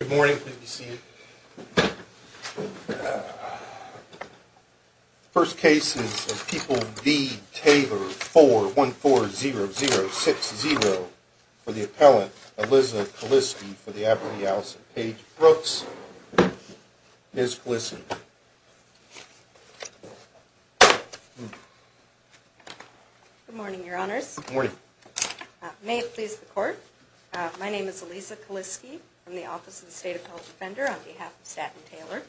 Good morning. First cases of people, the Taylor 4140060 for the appellant, Elisa Kaliski for the apprentice of Paige Brooks. Ms Kaliski. Good morning, your honors. Good morning. May it please the court. My name is Elisa Kaliski from the Office of the State Appellate Defender on behalf of Staten and Taylor.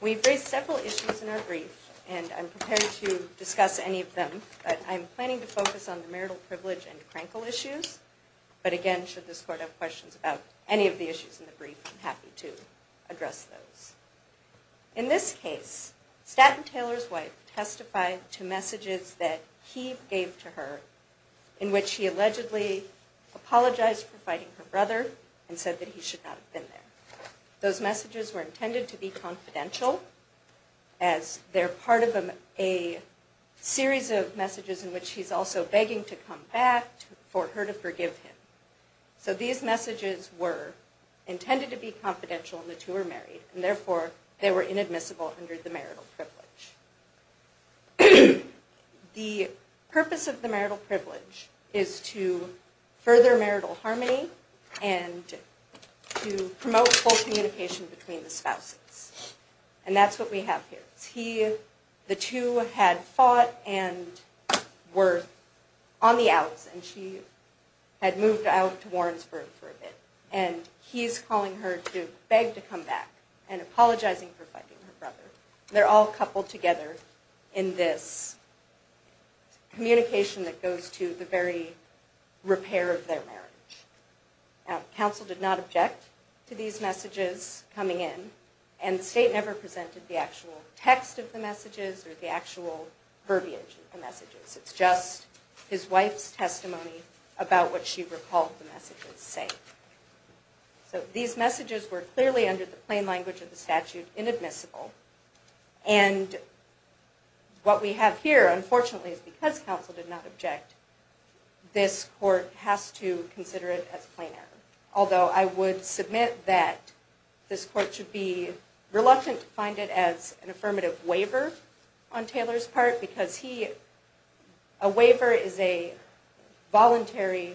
We've raised several issues in our brief, and I'm prepared to discuss any of them, but I'm planning to focus on the marital privilege and Krankel issues. But again, should this court have questions about any of the issues in the brief, I'm happy to address those. In this case, Staten and Taylor's wife testified to messages that he gave to her, in which he allegedly apologized for fighting her brother and said that he should not have been there. Those messages were intended to be confidential, as they're part of a series of messages in which he's also begging to come back for her to forgive him. So these messages were intended to be confidential in which they were married, and therefore they were inadmissible under the marital privilege. The purpose of the marital privilege is to further marital harmony and to promote full communication between the spouses. And that's what we have here. The two had fought and were on the outs, and she had moved out to Warrensburg for a bit. And he's calling her to beg to come back and apologizing for fighting her brother. They're all coupled together in this communication that goes to the very repair of their marriage. Counsel did not object to these messages coming in, and State never presented the actual text of the messages or the actual verbiage of the messages. It's just his wife's testimony about what she recalled the messages saying. So these messages were clearly, under the plain language of the statute, inadmissible. And what we have here, unfortunately, is because counsel did not object, this court has to consider it as plain error. Although I would submit that this court should be reluctant to find it as an affirmative waiver on Taylor's part, because a waiver is a voluntary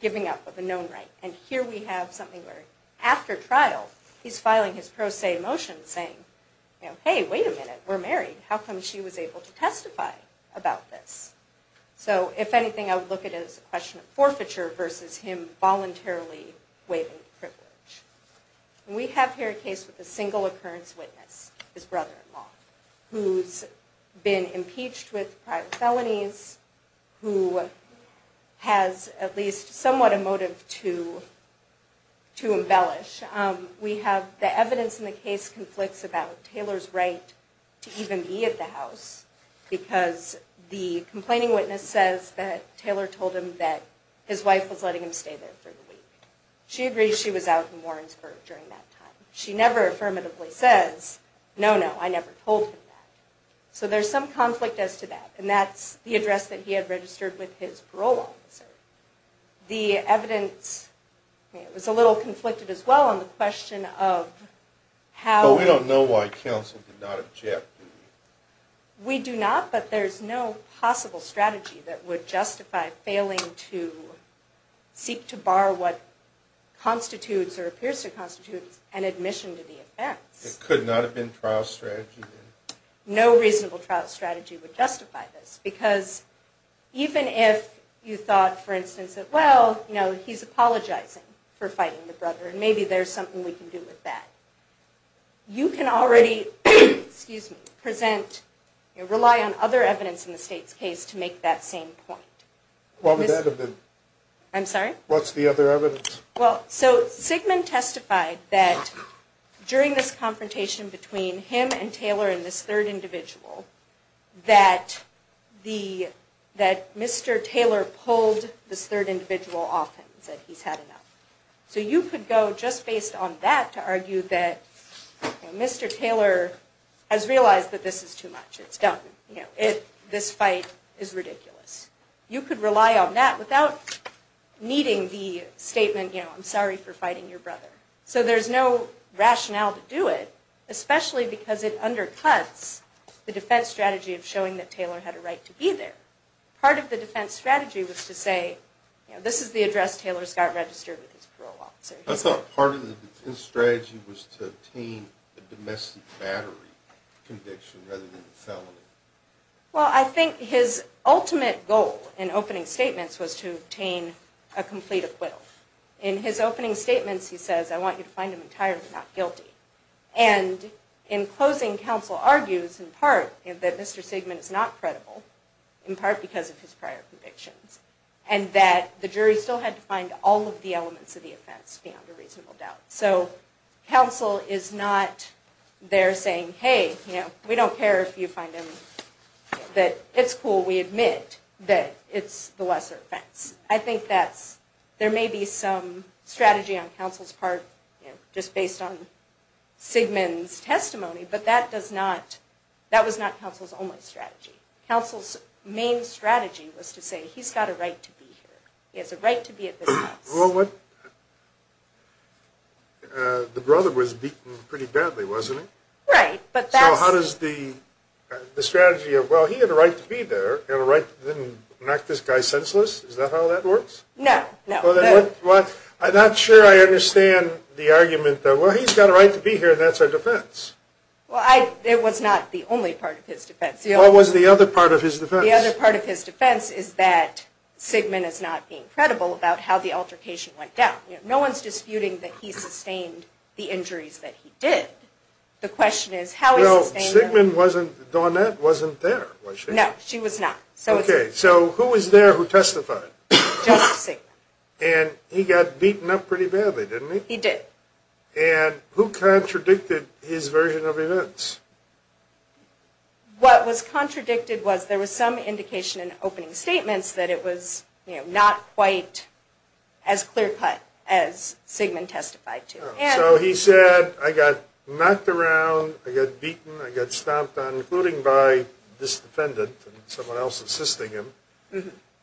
giving up of a known right. And here we have something where, after trial, he's filing his pro se motion saying, hey, wait a minute, we're married, how come she was able to testify about this? So if anything, I would look at it as a question of forfeiture versus him voluntarily waiving the privilege. We have here a case with a single occurrence witness, his brother-in-law, who's been impeached with private felonies, who has at least somewhat a motive to embellish. We have the evidence in the case conflicts about Taylor's right to even be at the house, because the complaining witness says that Taylor told him that his wife was letting him stay there for the week. She agrees she was out in Warrensburg during that time. She never affirmatively says, no, no, I never told him that. So there's some conflict as to that, and that's the address that he had registered with his parole officer. The evidence was a little conflicted as well on the question of how... But we don't know why counsel did not object. We do not, but there's no possible strategy that would justify failing to seek to bar what constitutes or appears to constitute an admission to the offense. It could not have been trial strategy. No reasonable trial strategy would justify this, because even if you thought, for instance, that, well, you know, he's apologizing for fighting the brother, and maybe there's something we can do with that. You can already, excuse me, present, rely on other evidence in the state's case to make that same point. What would that have been? I'm sorry? What's the other evidence? Well, so Sigmund testified that during this confrontation between him and Taylor and this third individual, that Mr. Taylor pulled this third individual off him and said he's had enough. So you could go, just based on that, to argue that Mr. Taylor has realized that this is too much. It's done. This fight is ridiculous. You could rely on that without needing the statement, you know, I'm sorry for fighting your brother. So there's no rationale to do it, especially because it undercuts the defense strategy of showing that Taylor had a right to be there. Part of the defense strategy was to say, you know, this is the address Taylor's got registered with his parole officer. I thought part of the defense strategy was to obtain a domestic battery conviction rather than a felony. Well, I think his ultimate goal in opening statements was to obtain a complete acquittal. In his opening statements, he says, I want you to find him entirely not guilty. And in closing, counsel argues in part that Mr. Sigmund is not credible, in part because of his prior convictions, and that the jury still had to find all of the elements of the offense beyond a reasonable doubt. So counsel is not there saying, hey, you know, we don't care if you find him, that it's cool, we admit that it's the lesser offense. I think there may be some strategy on counsel's part, just based on Sigmund's testimony, but that was not counsel's only strategy. Counsel's main strategy was to say, he's got a right to be here. He has a right to be at this house. Well, the brother was beaten pretty badly, wasn't he? Right. So how does the strategy of, well, he had a right to be there, didn't knock this guy senseless, is that how that works? No. I'm not sure I understand the argument that, well, he's got a right to be here, that's our defense. Well, it was not the only part of his defense. What was the other part of his defense? The other part of his defense is that Sigmund is not being credible about how the altercation went down. No one's disputing that he sustained the injuries that he did. The question is how he sustained them. Well, Sigmund wasn't, Dawnette wasn't there, was she? No, she was not. Okay, so who was there who testified? Just Sigmund. And he got beaten up pretty badly, didn't he? He did. And who contradicted his version of events? What was contradicted was there was some indication in opening statements that it was not quite as clear-cut as Sigmund testified to. So he said, I got knocked around, I got beaten, I got stomped on, including by this defendant and someone else assisting him,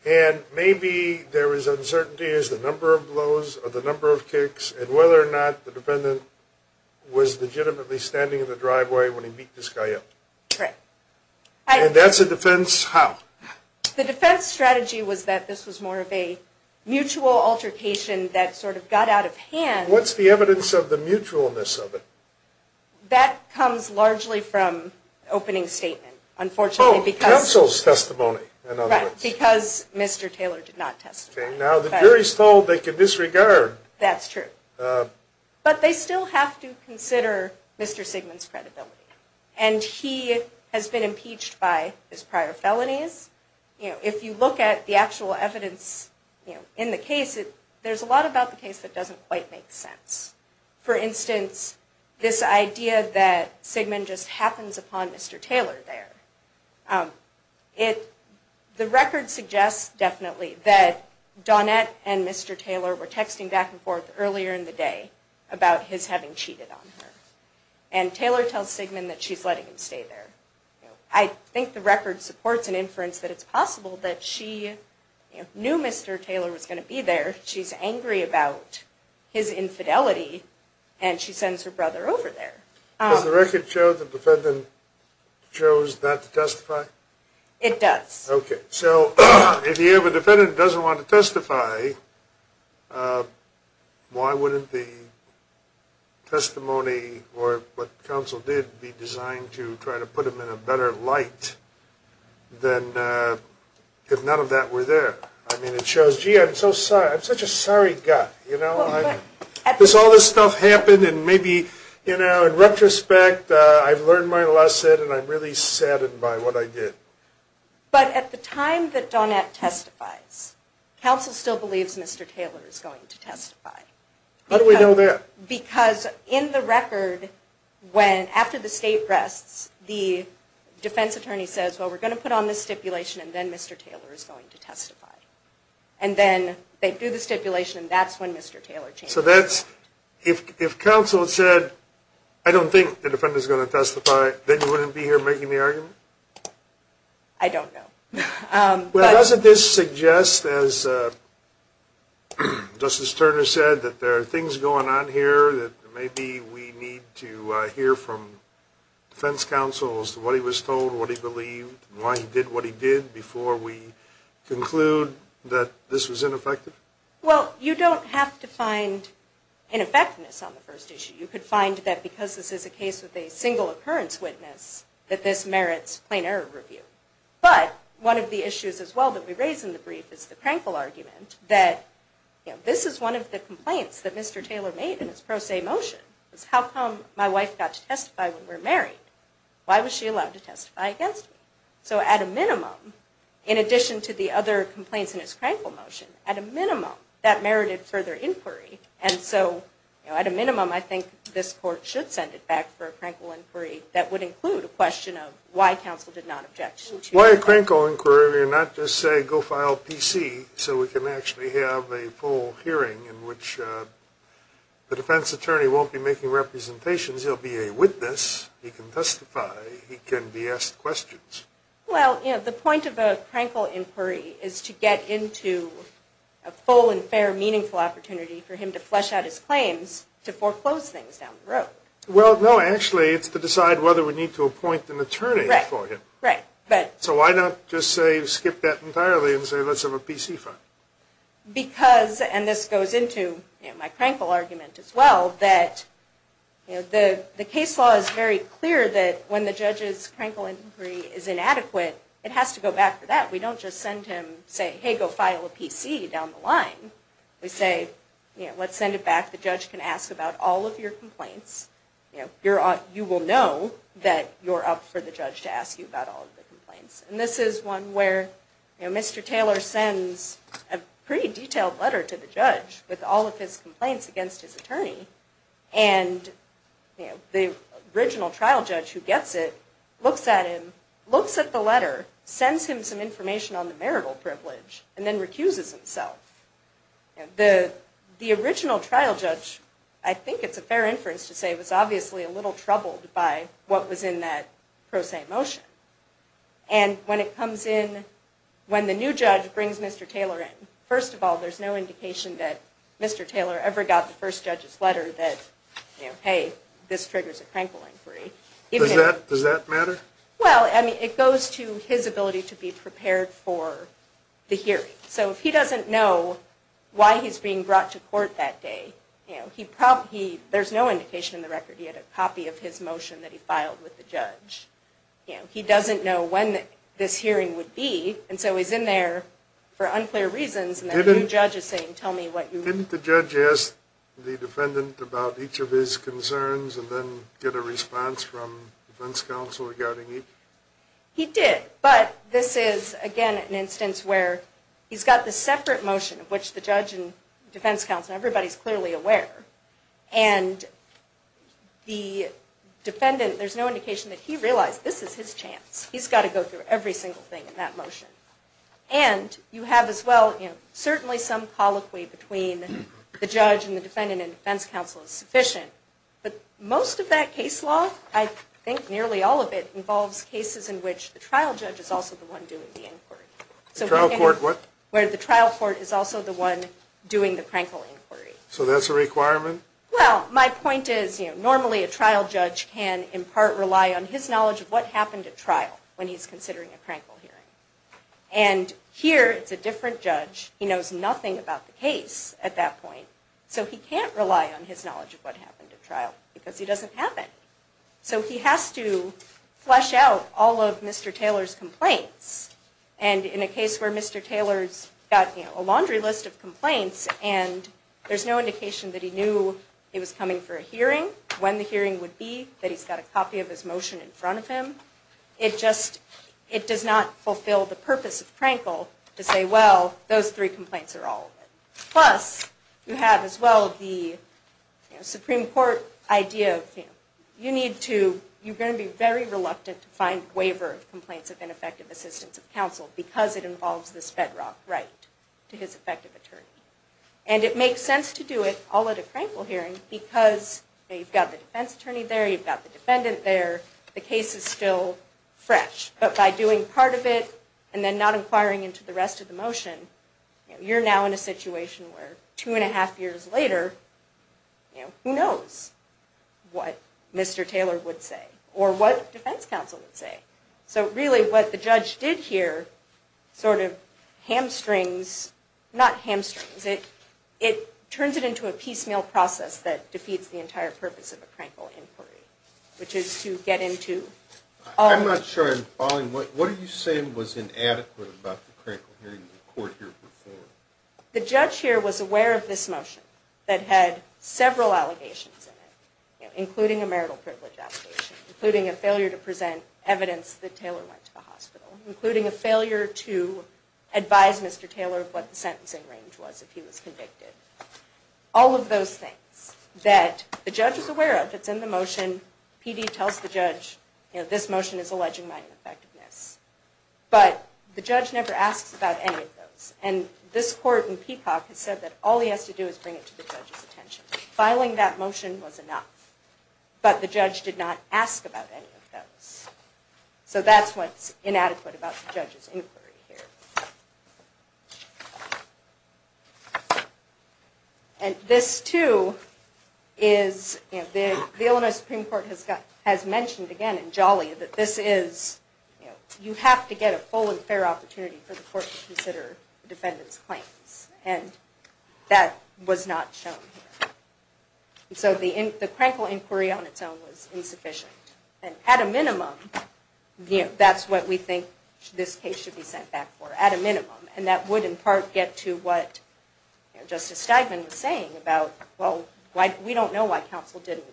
and maybe there was uncertainty as to the number of blows or the number of kicks and whether or not the defendant was legitimately standing in the driveway when he beat this guy up. Correct. And that's a defense how? The defense strategy was that this was more of a mutual altercation that sort of got out of hand. What's the evidence of the mutualness of it? That comes largely from opening statement, unfortunately. Oh, counsel's testimony, in other words. Right, because Mr. Taylor did not testify. Now, the jury's told they can disregard. That's true. But they still have to consider Mr. Sigmund's credibility. And he has been impeached by his prior felonies. If you look at the actual evidence in the case, there's a lot about the case that doesn't quite make sense. For instance, this idea that Sigmund just happens upon Mr. Taylor there. The record suggests definitely that Donette and Mr. Taylor were texting back and forth earlier in the day about his having cheated on her. And Taylor tells Sigmund that she's letting him stay there. I think the record supports an inference that it's possible that she knew Mr. Taylor was going to be there. She's angry about his infidelity, and she sends her brother over there. Does the record show the defendant chose not to testify? It does. Okay. So if you have a defendant who doesn't want to testify, why wouldn't the testimony or what counsel did be designed to try to put them in a better light than if none of that were there? I mean, it shows, gee, I'm such a sorry guy. You know? Because all this stuff happened, and maybe, you know, in retrospect, I've learned my lesson, and I'm really saddened by what I did. But at the time that Donette testifies, counsel still believes Mr. Taylor is going to testify. How do we know that? Because in the record, after the state rests, the defense attorney says, well, we're going to put on this stipulation, and then Mr. Taylor is going to testify. And then they do the stipulation, and that's when Mr. Taylor changed his mind. If counsel said, I don't think the defendant is going to testify, then you wouldn't be here making the argument? I don't know. Well, doesn't this suggest, as Justice Turner said, that there are things going on here that maybe we need to hear from defense counsel as to what he was told, what he believed, and why he did what he did before we conclude that this was ineffective? Well, you don't have to find ineffectiveness on the first issue. You could find that because this is a case with a single occurrence witness, that this merits plain error review. But one of the issues as well that we raise in the brief is the Krankel argument that, you know, this is one of the complaints that Mr. Taylor made in his pro se motion. It's how come my wife got to testify when we're married? Why was she allowed to testify against me? So at a minimum, in addition to the other complaints in his Krankel motion, at a minimum, that merited further inquiry. And so, you know, at a minimum, I think this court should send it back for a Krankel inquiry that would include a question of why counsel did not object. Why a Krankel inquiry and not just say go file PC so we can actually have a full hearing in which the defense attorney won't be making representations. He'll be a witness. He can testify. He can be asked questions. Well, you know, the point of a Krankel inquiry is to get into a full and fair meaningful opportunity for him to flesh out his claims to foreclose things down the road. Well, no, actually it's to decide whether we need to appoint an attorney for him. Right, right. So why not just say skip that entirely and say let's have a PC file? Because, and this goes into my Krankel argument as well, that the case law is very clear that when the judge's Krankel inquiry is inadequate, it has to go back to that. We don't just send him, say, hey, go file a PC down the line. We say, let's send it back. The judge can ask about all of your complaints. You will know that you're up for the judge to ask you about all of the complaints. And this is one where Mr. Taylor sends a pretty detailed letter to the judge with all of his complaints against his attorney. And the original trial judge who gets it looks at him, looks at the letter, sends him some information on the marital privilege, and then recuses himself. The original trial judge, I think it's a fair inference to say, was obviously a little troubled by what was in that pro se motion. And when it comes in, when the new judge brings Mr. Taylor in, first of all, there's no indication that Mr. Taylor ever got the first judge's letter that, hey, this triggers a Krankel inquiry. Does that matter? Well, I mean, it goes to his ability to be prepared for the hearing. So if he doesn't know why he's being brought to court that day, there's no indication in the record he had a copy of his motion that he filed with the judge. He doesn't know when this hearing would be, and so he's in there for unclear reasons. And the new judge is saying, tell me what you... Didn't the judge ask the defendant about each of his concerns and then get a response from defense counsel regarding each? He did. But this is, again, an instance where he's got the separate motion, of which the judge and defense counsel, everybody's clearly aware. And the defendant, there's no indication that he realized this is his chance. He's got to go through every single thing in that motion. And you have, as well, certainly some colloquy between the judge and the defendant and defense counsel is sufficient. But most of that case law, I think nearly all of it, involves cases in which the trial judge is also the one doing the inquiry. The trial court, what? Where the trial court is also the one doing the Krankel inquiry. So that's a requirement? Well, my point is, normally a trial judge can, in part, rely on his knowledge of what happened at trial when he's considering a Krankel hearing. And here, it's a different judge. He knows nothing about the case at that point. So he can't rely on his knowledge of what happened at trial because he doesn't have it. So he has to flesh out all of Mr. Taylor's complaints. And in a case where Mr. Taylor's got a laundry list of complaints and there's no indication that he knew he was coming for a hearing, when the hearing would be, that he's got a copy of his motion in front of him, it does not fulfill the purpose of Krankel to say, well, those three complaints are all of it. Plus, you have, as well, the Supreme Court idea of, you know, you need to, you're going to be very reluctant to find a waiver of complaints of ineffective assistance of counsel because it involves this bedrock right to his effective attorney. And it makes sense to do it all at a Krankel hearing because you've got the defense attorney there, you've got the defendant there, the case is still fresh. But by doing part of it and then not inquiring into the rest of the motion, you're now in a situation where two and a half years later, you know, who knows what Mr. Taylor would say or what defense counsel would say. So really what the judge did here sort of hamstrings, not hamstrings, it turns it into a piecemeal process that defeats the entire purpose of a Krankel inquiry, which is to get into all of it. I'm not sure I'm following. What are you saying was inadequate about the Krankel hearing in court here before? The judge here was aware of this motion that had several allegations in it, including a marital privilege allegation, including a failure to present evidence that Taylor went to the hospital, including a failure to advise Mr. Taylor of what the sentencing range was if he was convicted. All of those things that the judge is aware of that's in the motion. PD tells the judge, you know, this motion is alleging my ineffectiveness. But the judge never asks about any of those. And this court in Peacock has said that all he has to do is bring it to the judge's attention. Filing that motion was enough, but the judge did not ask about any of those. So that's what's inadequate about the judge's inquiry here. And this too is, you know, the Illinois Supreme Court has mentioned again in Jolly that this is, you know, you have to get a full and fair opportunity for the court to consider the defendant's claims. And that was not shown here. And so the Krankel inquiry on its own was insufficient. And at a minimum, you know, that's what we think this case should be sent back for. At a minimum. And that would in part get to what Justice Steigman was saying about, well, we don't know why counsel didn't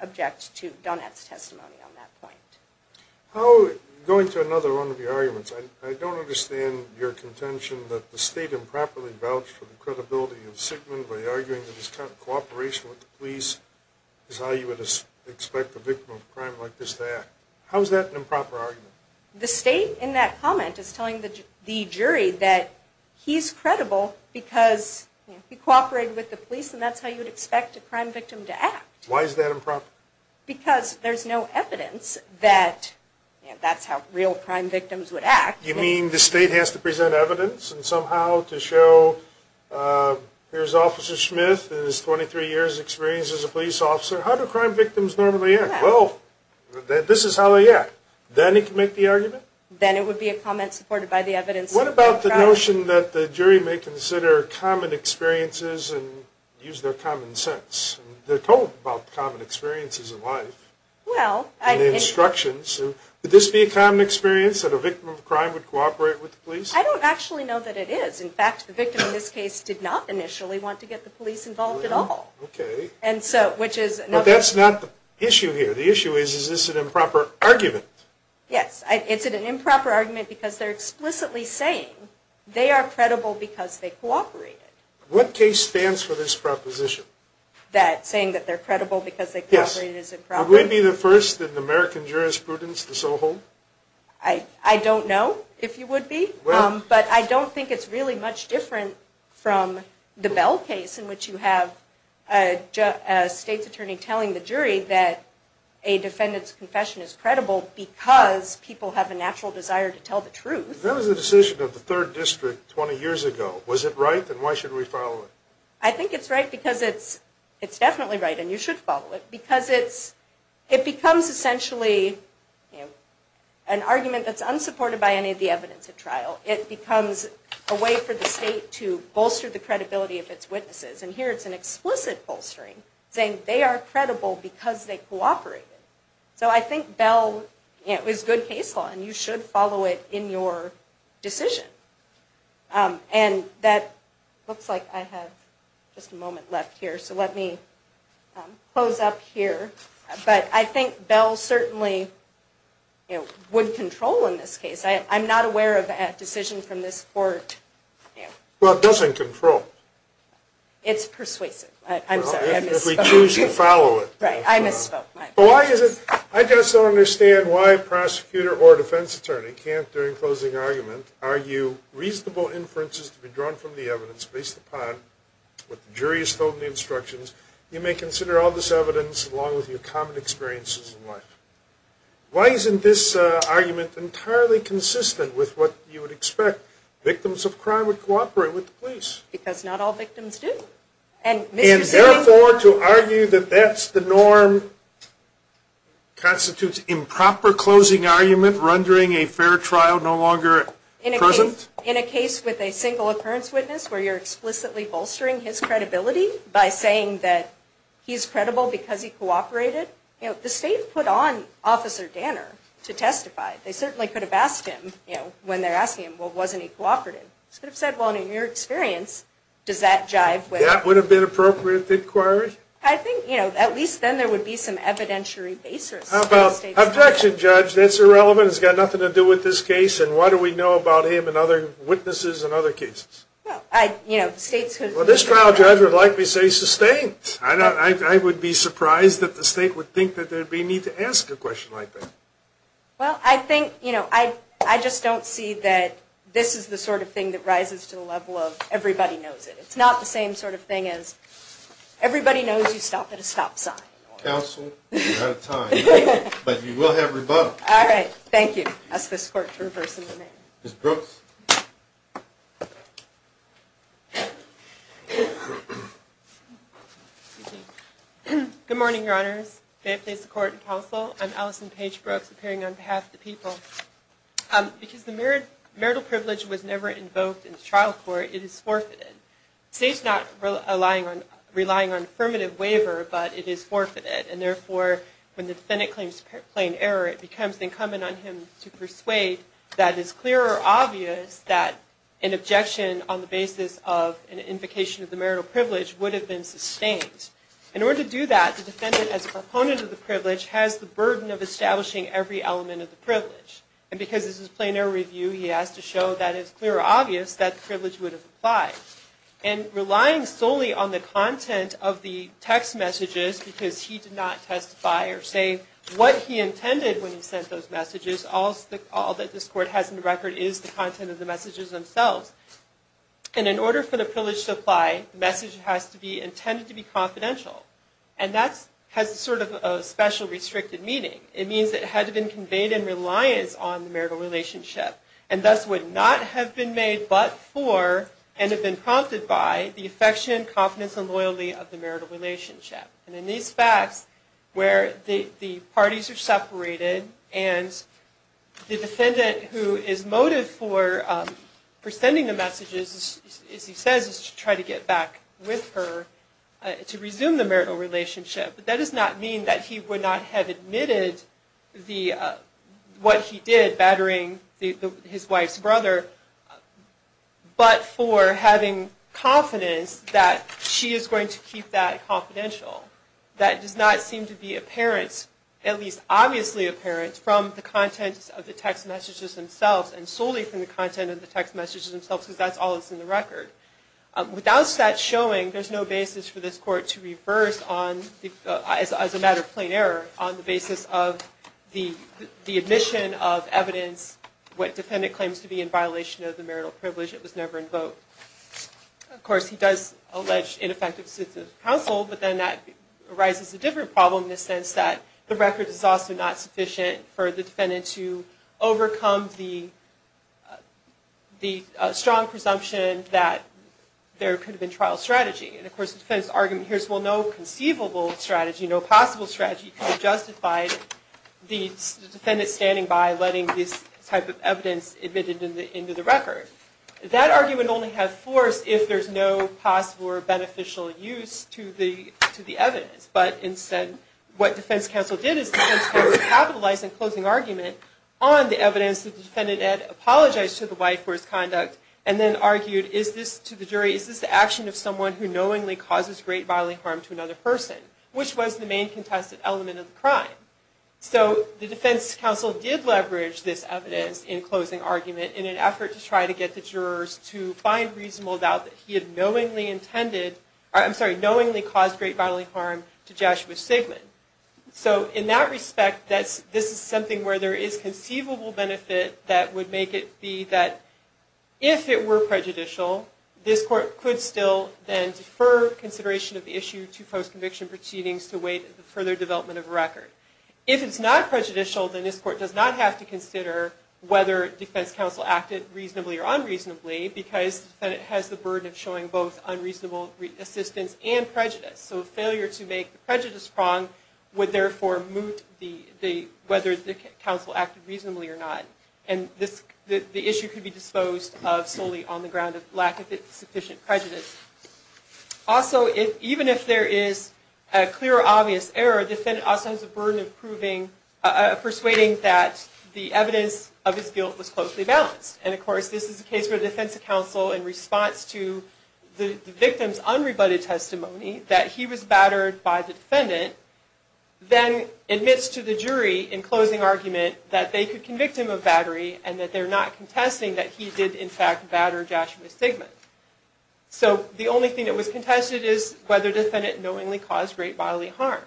object to Donat's testimony on that point. Going to another one of your arguments, I don't understand your contention that the state improperly vouched for the credibility of Sickman by arguing that his kind of cooperation with the police is how you would expect a victim of a crime like this to act. How is that an improper argument? The state in that comment is telling the jury that he's credible because he cooperated with the police and that's how you would expect a crime victim to act. Why is that improper? Because there's no evidence that that's how real crime victims would act. You mean the state has to present evidence and somehow to show here's Officer Smith and his 23 years' experience as a police officer, how do crime victims normally act? Well, this is how they act. Then it can make the argument? Then it would be a comment supported by the evidence. What about the notion that the jury may consider common experiences and use their common sense? They're told about common experiences in life and instructions. Would this be a common experience that a victim of a crime would cooperate with the police? I don't actually know that it is. In fact, the victim in this case did not initially want to get the police involved at all. Okay. But that's not the issue here. The issue is, is this an improper argument? Yes. It's an improper argument because they're explicitly saying they are credible because they cooperated. What case stands for this proposition? That saying that they're credible because they cooperated is improper? Yes. Would we be the first in American jurisprudence to so hold? I don't know if you would be. But I don't think it's really much different from the Bell case in which you have a state's attorney telling the jury that a defendant's confession is credible because people have a natural desire to tell the truth. That was a decision of the third district 20 years ago. Was it right? Then why should we follow it? I think it's right because it's definitely right and you should follow it. Because it becomes essentially an argument that's unsupported by any of the evidence at trial. It becomes a way for the state to bolster the credibility of its witnesses. And here it's an explicit bolstering saying they are credible because they cooperated. So I think Bell is good case law and you should follow it in your decision. And that looks like I have just a moment left here so let me close up here. But I think Bell certainly would control in this case. I'm not aware of a decision from this court. Well, it doesn't control. It's persuasive. I'm sorry. If we choose to follow it. Right. I misspoke. I just don't understand why a prosecutor or a defense attorney can't, during closing argument, argue reasonable inferences to be drawn from the evidence based upon what the jury has told in the instructions. You may consider all this evidence along with your common experiences in life. Why isn't this argument entirely consistent with what you would expect? Victims of crime would cooperate with the police. Because not all victims do. And therefore to argue that that's the norm constitutes improper closing argument rendering a fair trial no longer present? In a case with a single occurrence witness where you're explicitly bolstering his credibility by saying that he's credible because he cooperated. The state put on Officer Danner to testify. They certainly could have asked him when they're asking him, well, wasn't he cooperative? They could have said, well, in your experience, does that jive with. That would have been appropriate to inquire? I think, you know, at least then there would be some evidentiary basis. Objection, Judge. That's irrelevant. It's got nothing to do with this case. And why do we know about him and other witnesses and other cases? Well, I, you know, states could. Well, this trial, Judge, would likely say sustained. I would be surprised that the state would think that there would be a need to ask a question like that. Well, I think, you know, I just don't see that this is the sort of thing that rises to the level of everybody knows it. It's not the same sort of thing as everybody knows you stop at a stop sign. Counsel, you're out of time. But you will have rebuttal. All right. Thank you. I'll ask this Court to reverse the amendment. Ms. Brooks. Good morning, Your Honors. May it please the Court and Counsel. I'm Allison Page Brooks, appearing on behalf of the people. Because the marital privilege was never invoked in the trial court, it is forfeited. The state's not relying on affirmative waiver, but it is forfeited. And therefore, when the defendant claims plain error, it becomes incumbent on him to persuade that it's clear or obvious that an objection on the basis of an invocation of the marital privilege would have been sustained. In order to do that, the defendant, as a proponent of the privilege, has the burden of establishing every element of the privilege. And because this is a plain error review, he has to show that it's clear or obvious that the privilege would have applied. And relying solely on the content of the text messages, because he did not testify or say what he intended when he sent those messages, all that this Court has on the record is the content of the messages themselves. And in order for the privilege to apply, the message has to be intended to be confidential. And that has sort of a special, restricted meaning. It means that it had to have been conveyed in reliance on the marital relationship, and thus would not have been made but for, and have been prompted by, the affection, confidence, and loyalty of the marital relationship. And in these facts, where the parties are separated, and the defendant who is motive for sending the messages, as he says, is to try to get back with her, to resume the marital relationship. But that does not mean that he would not have admitted what he did, battering his wife's brother, but for having confidence that she is going to keep that confidential. That does not seem to be apparent, at least obviously apparent, from the content of the text messages themselves, and solely from the content of the text messages themselves, because that's all that's in the record. Without that showing, there's no basis for this Court to reverse, as a matter of plain error, on the basis of the admission of evidence, what defendant claims to be in violation of the marital privilege that was never invoked. Of course, he does allege ineffective suits of counsel, but then that arises a different problem in the sense that the record is also not sufficient for the defendant to overcome the strong presumption that there could have been trial strategy. And of course, the defendant's argument here is, well, no conceivable strategy, no possible strategy, could have justified the defendant standing by, letting this type of evidence admitted into the record. That argument would only have force if there's no possible or beneficial use to the evidence. But instead, what defense counsel did is defense counsel capitalized in closing argument on the evidence that the defendant had apologized to the wife for his conduct, and then argued, is this, to the jury, is this the action of someone who knowingly causes great bodily harm to another person, which was the main contested element of the crime. So the defense counsel did leverage this evidence in closing argument in an effort to try to get the jurors to find reasonable doubt that he had knowingly intended, I'm sorry, knowingly caused great bodily harm to Joshua Sigman. So in that respect, this is something where there is conceivable benefit that would make it be that, if it were prejudicial, this court could still then defer consideration of the issue to post-conviction proceedings to wait for their development of a record. If it's not prejudicial, then this court does not have to consider whether defense counsel acted reasonably or unreasonably, because the defendant has the burden of showing both unreasonable assistance and prejudice. So failure to make the prejudice prong would therefore moot whether the counsel acted reasonably or not. And the issue could be disposed of solely on the ground of lack of sufficient prejudice. Also, even if there is a clear or obvious error, the defendant also has the burden of proving, persuading that the evidence of his guilt was closely balanced. And of course, this is the case where the defense counsel, in response to the victim's unrebutted testimony, that he was battered by the defendant, then admits to the jury in closing argument that they could convict him of battery and that they're not contesting that he did, in fact, batter Joshua Sigmund. So the only thing that was contested is whether the defendant knowingly caused great bodily harm.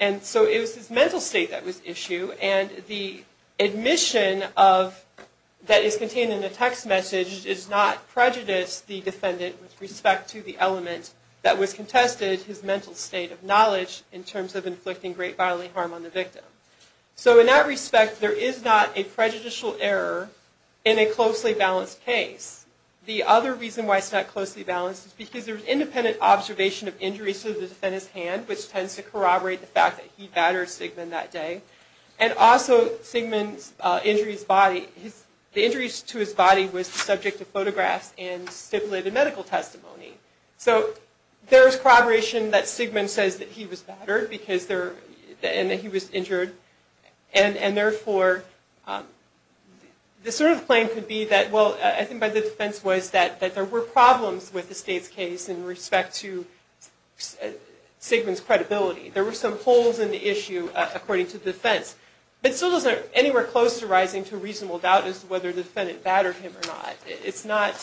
And so it was his mental state that was at issue, and the admission that is contained in the text message does not prejudice the defendant with respect to the element that was contested, his mental state of knowledge in terms of inflicting great bodily harm on the victim. So in that respect, there is not a prejudicial error in a closely balanced case. The other reason why it's not closely balanced is because there's independent observation of injuries to the defendant's hand, which tends to corroborate the fact that he battered Sigmund that day. And also, Sigmund's injuries to his body was subject to photographs and stipulated medical testimony. So there's corroboration that Sigmund says that he was battered and that he was injured. And therefore, the sort of claim could be that, well, I think by the defense, was that there were problems with the state's case in respect to Sigmund's credibility. There were some holes in the issue, according to the defense. But it still isn't anywhere close to rising to reasonable doubt as to whether the defendant battered him or not. It's not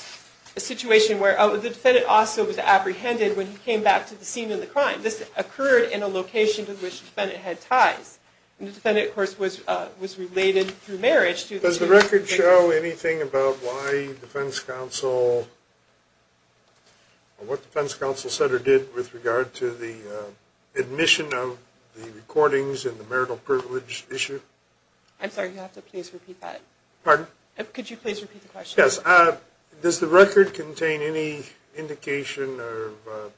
a situation where, oh, the defendant also was apprehended when he came back to the scene of the crime. This occurred in a location to which the defendant had ties. And the defendant, of course, was related through marriage to the case. Does the record show anything about why the defense counsel, or what the defense counsel said or did with regard to the admission of the recordings and the marital privilege issue? I'm sorry, you'll have to please repeat that. Pardon? Could you please repeat the question? Yes. Does the record contain any indication of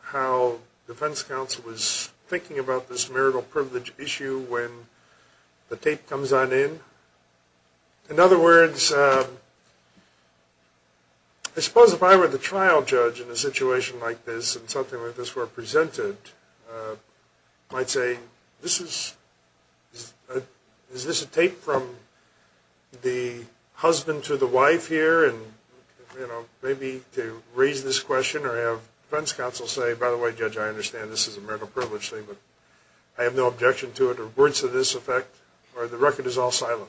how defense counsel was thinking about this marital privilege issue when the tape comes on in? In other words, I suppose if I were the trial judge in a situation like this and something like this were presented, I might say, is this a tape from the husband to the wife here? And maybe to raise this question or have defense counsel say, by the way, judge, I understand this is a marital privilege thing, but I have no objection to it, or words to this effect, or the record is all silent.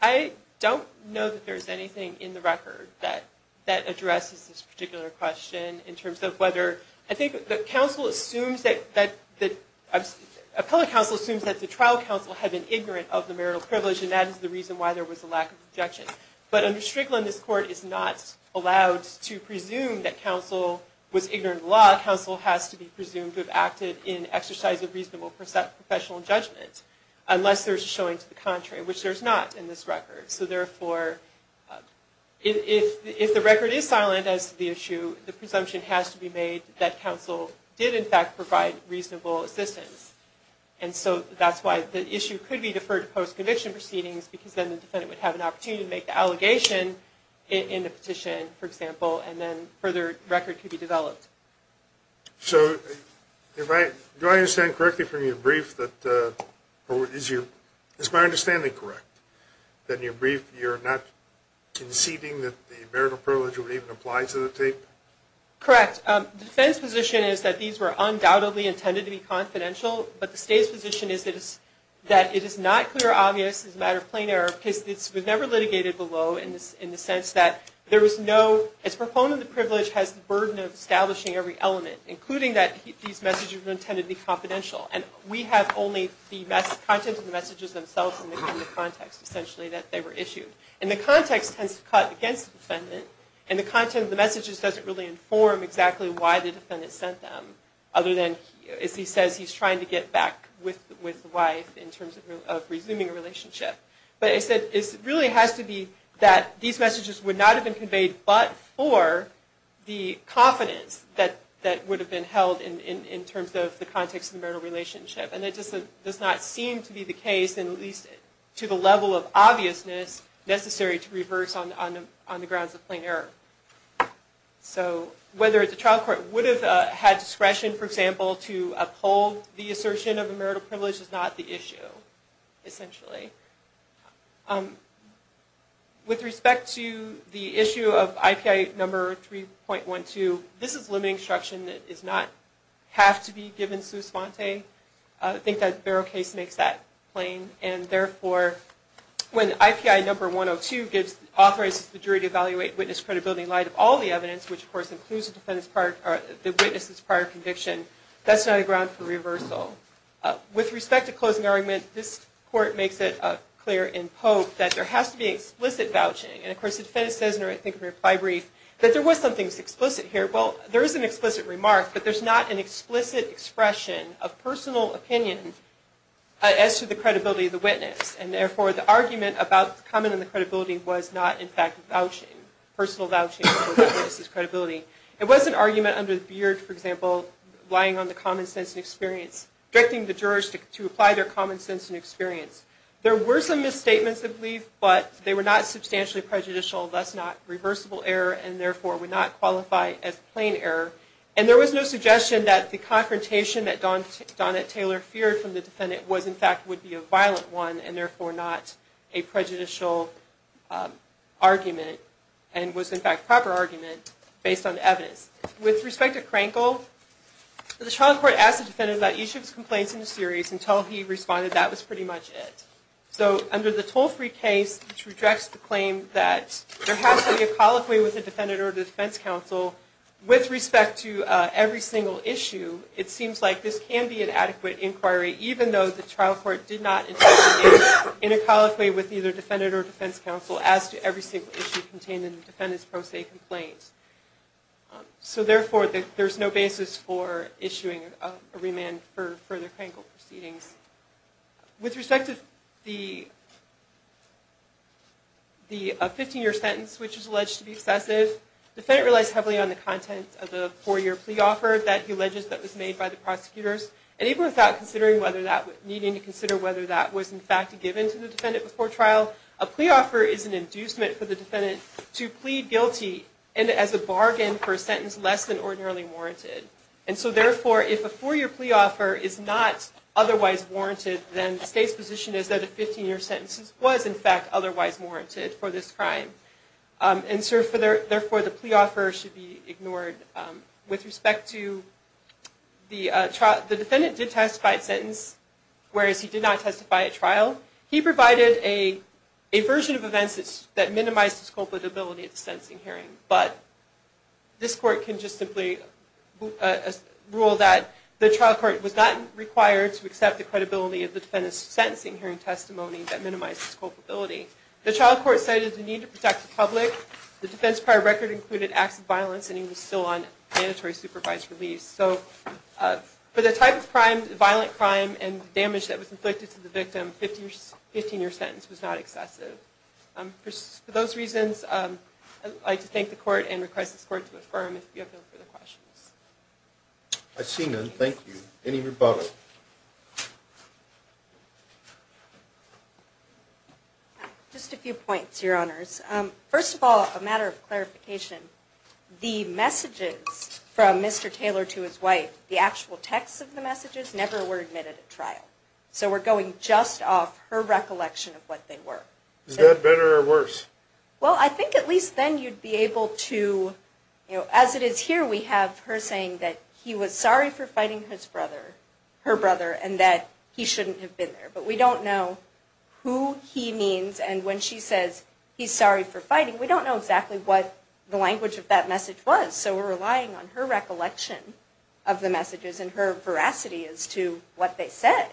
I don't know that there's anything in the record that addresses this particular question in terms of whether, I think the counsel assumes that, appellate counsel assumes that the trial counsel had been ignorant of the marital privilege and that is the reason why there was a lack of objection. But under Strickland, this court is not allowed to presume that counsel was ignorant of the law. Counsel has to be presumed to have acted in exercise of reasonable professional judgment, unless there's a showing to the contrary, which there's not in this record. So therefore, if the record is silent as to the issue, the presumption has to be made that counsel did in fact provide reasonable assistance. And so that's why the issue could be deferred to post-conviction proceedings, because then the defendant would have an opportunity to make the allegation in the petition, for example, So, do I understand correctly from your brief that, or is my understanding correct, that in your brief you're not conceding that the marital privilege would even apply to the tape? Correct. The defense position is that these were undoubtedly intended to be confidential, but the state's position is that it is not clear or obvious as a matter of plain error, because it was never litigated below in the sense that there was no, So, its proponent of the privilege has the burden of establishing every element, including that these messages were intended to be confidential, and we have only the contents of the messages themselves in the context, essentially, that they were issued. And the context tends to cut against the defendant, and the content of the messages doesn't really inform exactly why the defendant sent them, other than, as he says, he's trying to get back with the wife in terms of resuming a relationship. But it really has to be that these messages would not have been conveyed but for the confidence that would have been held in terms of the context of the marital relationship. And it does not seem to be the case, at least to the level of obviousness, necessary to reverse on the grounds of plain error. So, whether the trial court would have had discretion, for example, to uphold the assertion of a marital privilege is not the issue, essentially. With respect to the issue of IPI number 3.12, this is limiting instruction that does not have to be given sous-fante. I think that Barrow case makes that plain. And therefore, when IPI number 102 authorizes the jury to evaluate witness credibility in light of all the evidence, which, of course, includes the witness's prior conviction, that's not a ground for reversal. With respect to closing argument, this court makes it clear in Pope that there has to be explicit vouching. And, of course, the defendant says in her reply brief that there was something explicit here. Well, there is an explicit remark, but there's not an explicit expression of personal opinion as to the credibility of the witness. And therefore, the argument about the comment on the credibility was not, in fact, personal vouching for the witness's credibility. It was an argument under the beard, for example, relying on the common sense and experience, directing the jurors to apply their common sense and experience. There were some misstatements of belief, but they were not substantially prejudicial, thus not reversible error, and therefore would not qualify as plain error. And there was no suggestion that the confrontation that Donnet Taylor feared from the defendant was, in fact, would be a violent one and, therefore, not a prejudicial argument and was, in fact, a proper argument based on evidence. With respect to Krankel, the trial court asked the defendant about each of his complaints in the series until he responded that that was pretty much it. So under the toll-free case, which rejects the claim that there has to be a colloquy with the defendant or the defense counsel with respect to every single issue, it seems like this can be an adequate inquiry even though the trial court did not intend to be in a colloquy with either defendant or defense counsel as to every single issue contained in the defendant's pro se complaints. So, therefore, there's no basis for issuing a remand for the Krankel proceedings. With respect to the 15-year sentence, which is alleged to be excessive, the defendant relies heavily on the content of the four-year plea offer that he alleges that was made by the prosecutors. And even without needing to consider whether that was, in fact, given to the defendant before trial, a plea offer is an inducement for the defendant to plead guilty and as a bargain for a sentence less than ordinarily warranted. And so, therefore, if a four-year plea offer is not otherwise warranted, then the state's position is that a 15-year sentence was, in fact, otherwise warranted for this crime. And so, therefore, the plea offer should be ignored. With respect to the trial, the defendant did testify at sentence, whereas he did not testify at trial. He provided a version of events that minimized his culpability at the sentencing hearing, but this court can just simply rule that the trial court was not required to accept the credibility of the defendant's sentencing hearing testimony that minimized his culpability. The trial court cited the need to protect the public. The defense prior record included acts of violence and he was still on mandatory supervised release. So for the type of crime, violent crime, and damage that was inflicted to the victim, 15-year sentence was not excessive. For those reasons, I'd like to thank the court and request this court to affirm if you have no further questions. I see none. Thank you. Any rebuttal? Just a few points, Your Honors. First of all, a matter of clarification. The messages from Mr. Taylor to his wife, the actual text of the messages, never were admitted at trial. So we're going just off her recollection of what they were. Is that better or worse? Well, I think at least then you'd be able to, as it is here, we have her saying that he was sorry for fighting his brother. Her brother, and that he shouldn't have been there. But we don't know who he means, and when she says, he's sorry for fighting, we don't know exactly what the language of that message was. So we're relying on her recollection of the messages and her veracity as to what they said.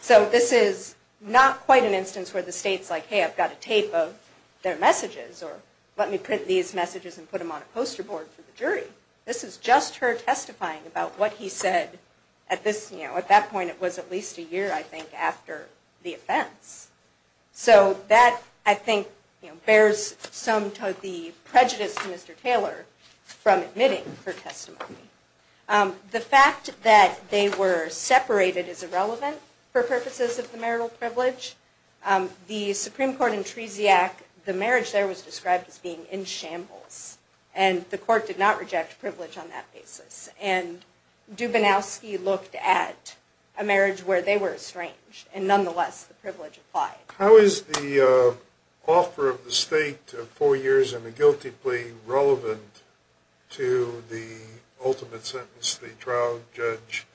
So this is not quite an instance where the state's like, hey, I've got a tape of their messages, or let me print these messages and put them on a poster board for the jury. This is just her testifying about what he said. At that point, it was at least a year, I think, after the offense. So that, I think, bears some of the prejudice to Mr. Taylor from admitting her testimony. The fact that they were separated is irrelevant for purposes of the marital privilege. The Supreme Court in Tresiac, the marriage there was described as being in shambles. And the court did not reject privilege on that basis. And Dubinowski looked at a marriage where they were estranged, and nonetheless, the privilege applied. How is the offer of the state of four years and a guilty plea relevant to the ultimate sentence the trial judge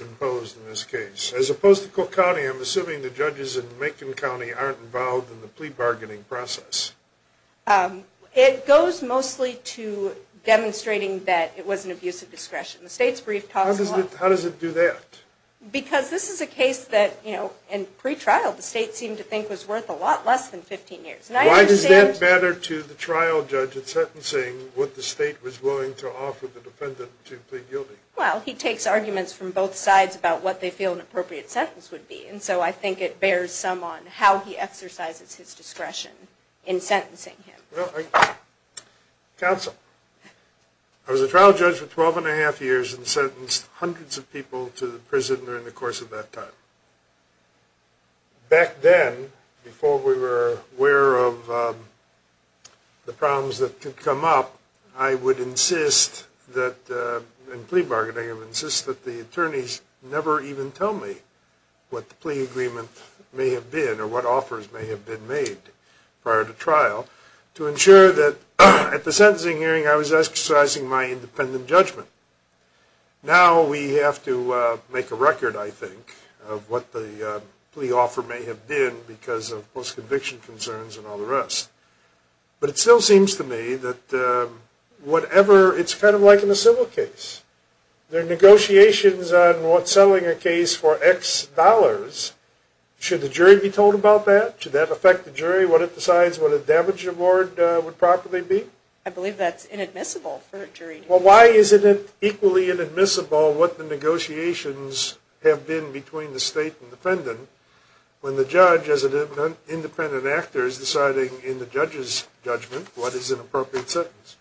imposed in this case? As opposed to Cook County, I'm assuming the judges in Macon County aren't involved in the plea bargaining process. It goes mostly to demonstrating that it was an abuse of discretion. The state's brief talks a lot... How does it do that? Because this is a case that, you know, in pre-trial, the state seemed to think was worth a lot less than 15 years. Why does that matter to the trial judge in sentencing what the state was willing to offer the defendant to plead guilty? Well, he takes arguments from both sides about what they feel an appropriate sentence would be. And so I think it bears some on how he exercises his discretion in sentencing him. Well, counsel, I was a trial judge for 12 and a half years and sentenced hundreds of people to prison during the course of that time. Back then, before we were aware of the problems that could come up, I would insist that, in plea bargaining, I would insist that the attorneys never even tell me what the plea agreement may have been or what offers may have been made prior to trial to ensure that at the sentencing hearing I was exercising my independent judgment. Now we have to make a record, I think, of what the plea offer may have been because of post-conviction concerns and all the rest. But it still seems to me that whatever, it's kind of like in a civil case. There are negotiations on what's selling a case for X dollars. Should the jury be told about that? Should that affect the jury, what it decides what a damage award would properly be? I believe that's inadmissible for a jury to do. Well, why isn't it equally inadmissible what the negotiations have been between the state and defendant when the judge, as an independent actor, is deciding in the judge's judgment what is an appropriate sentence?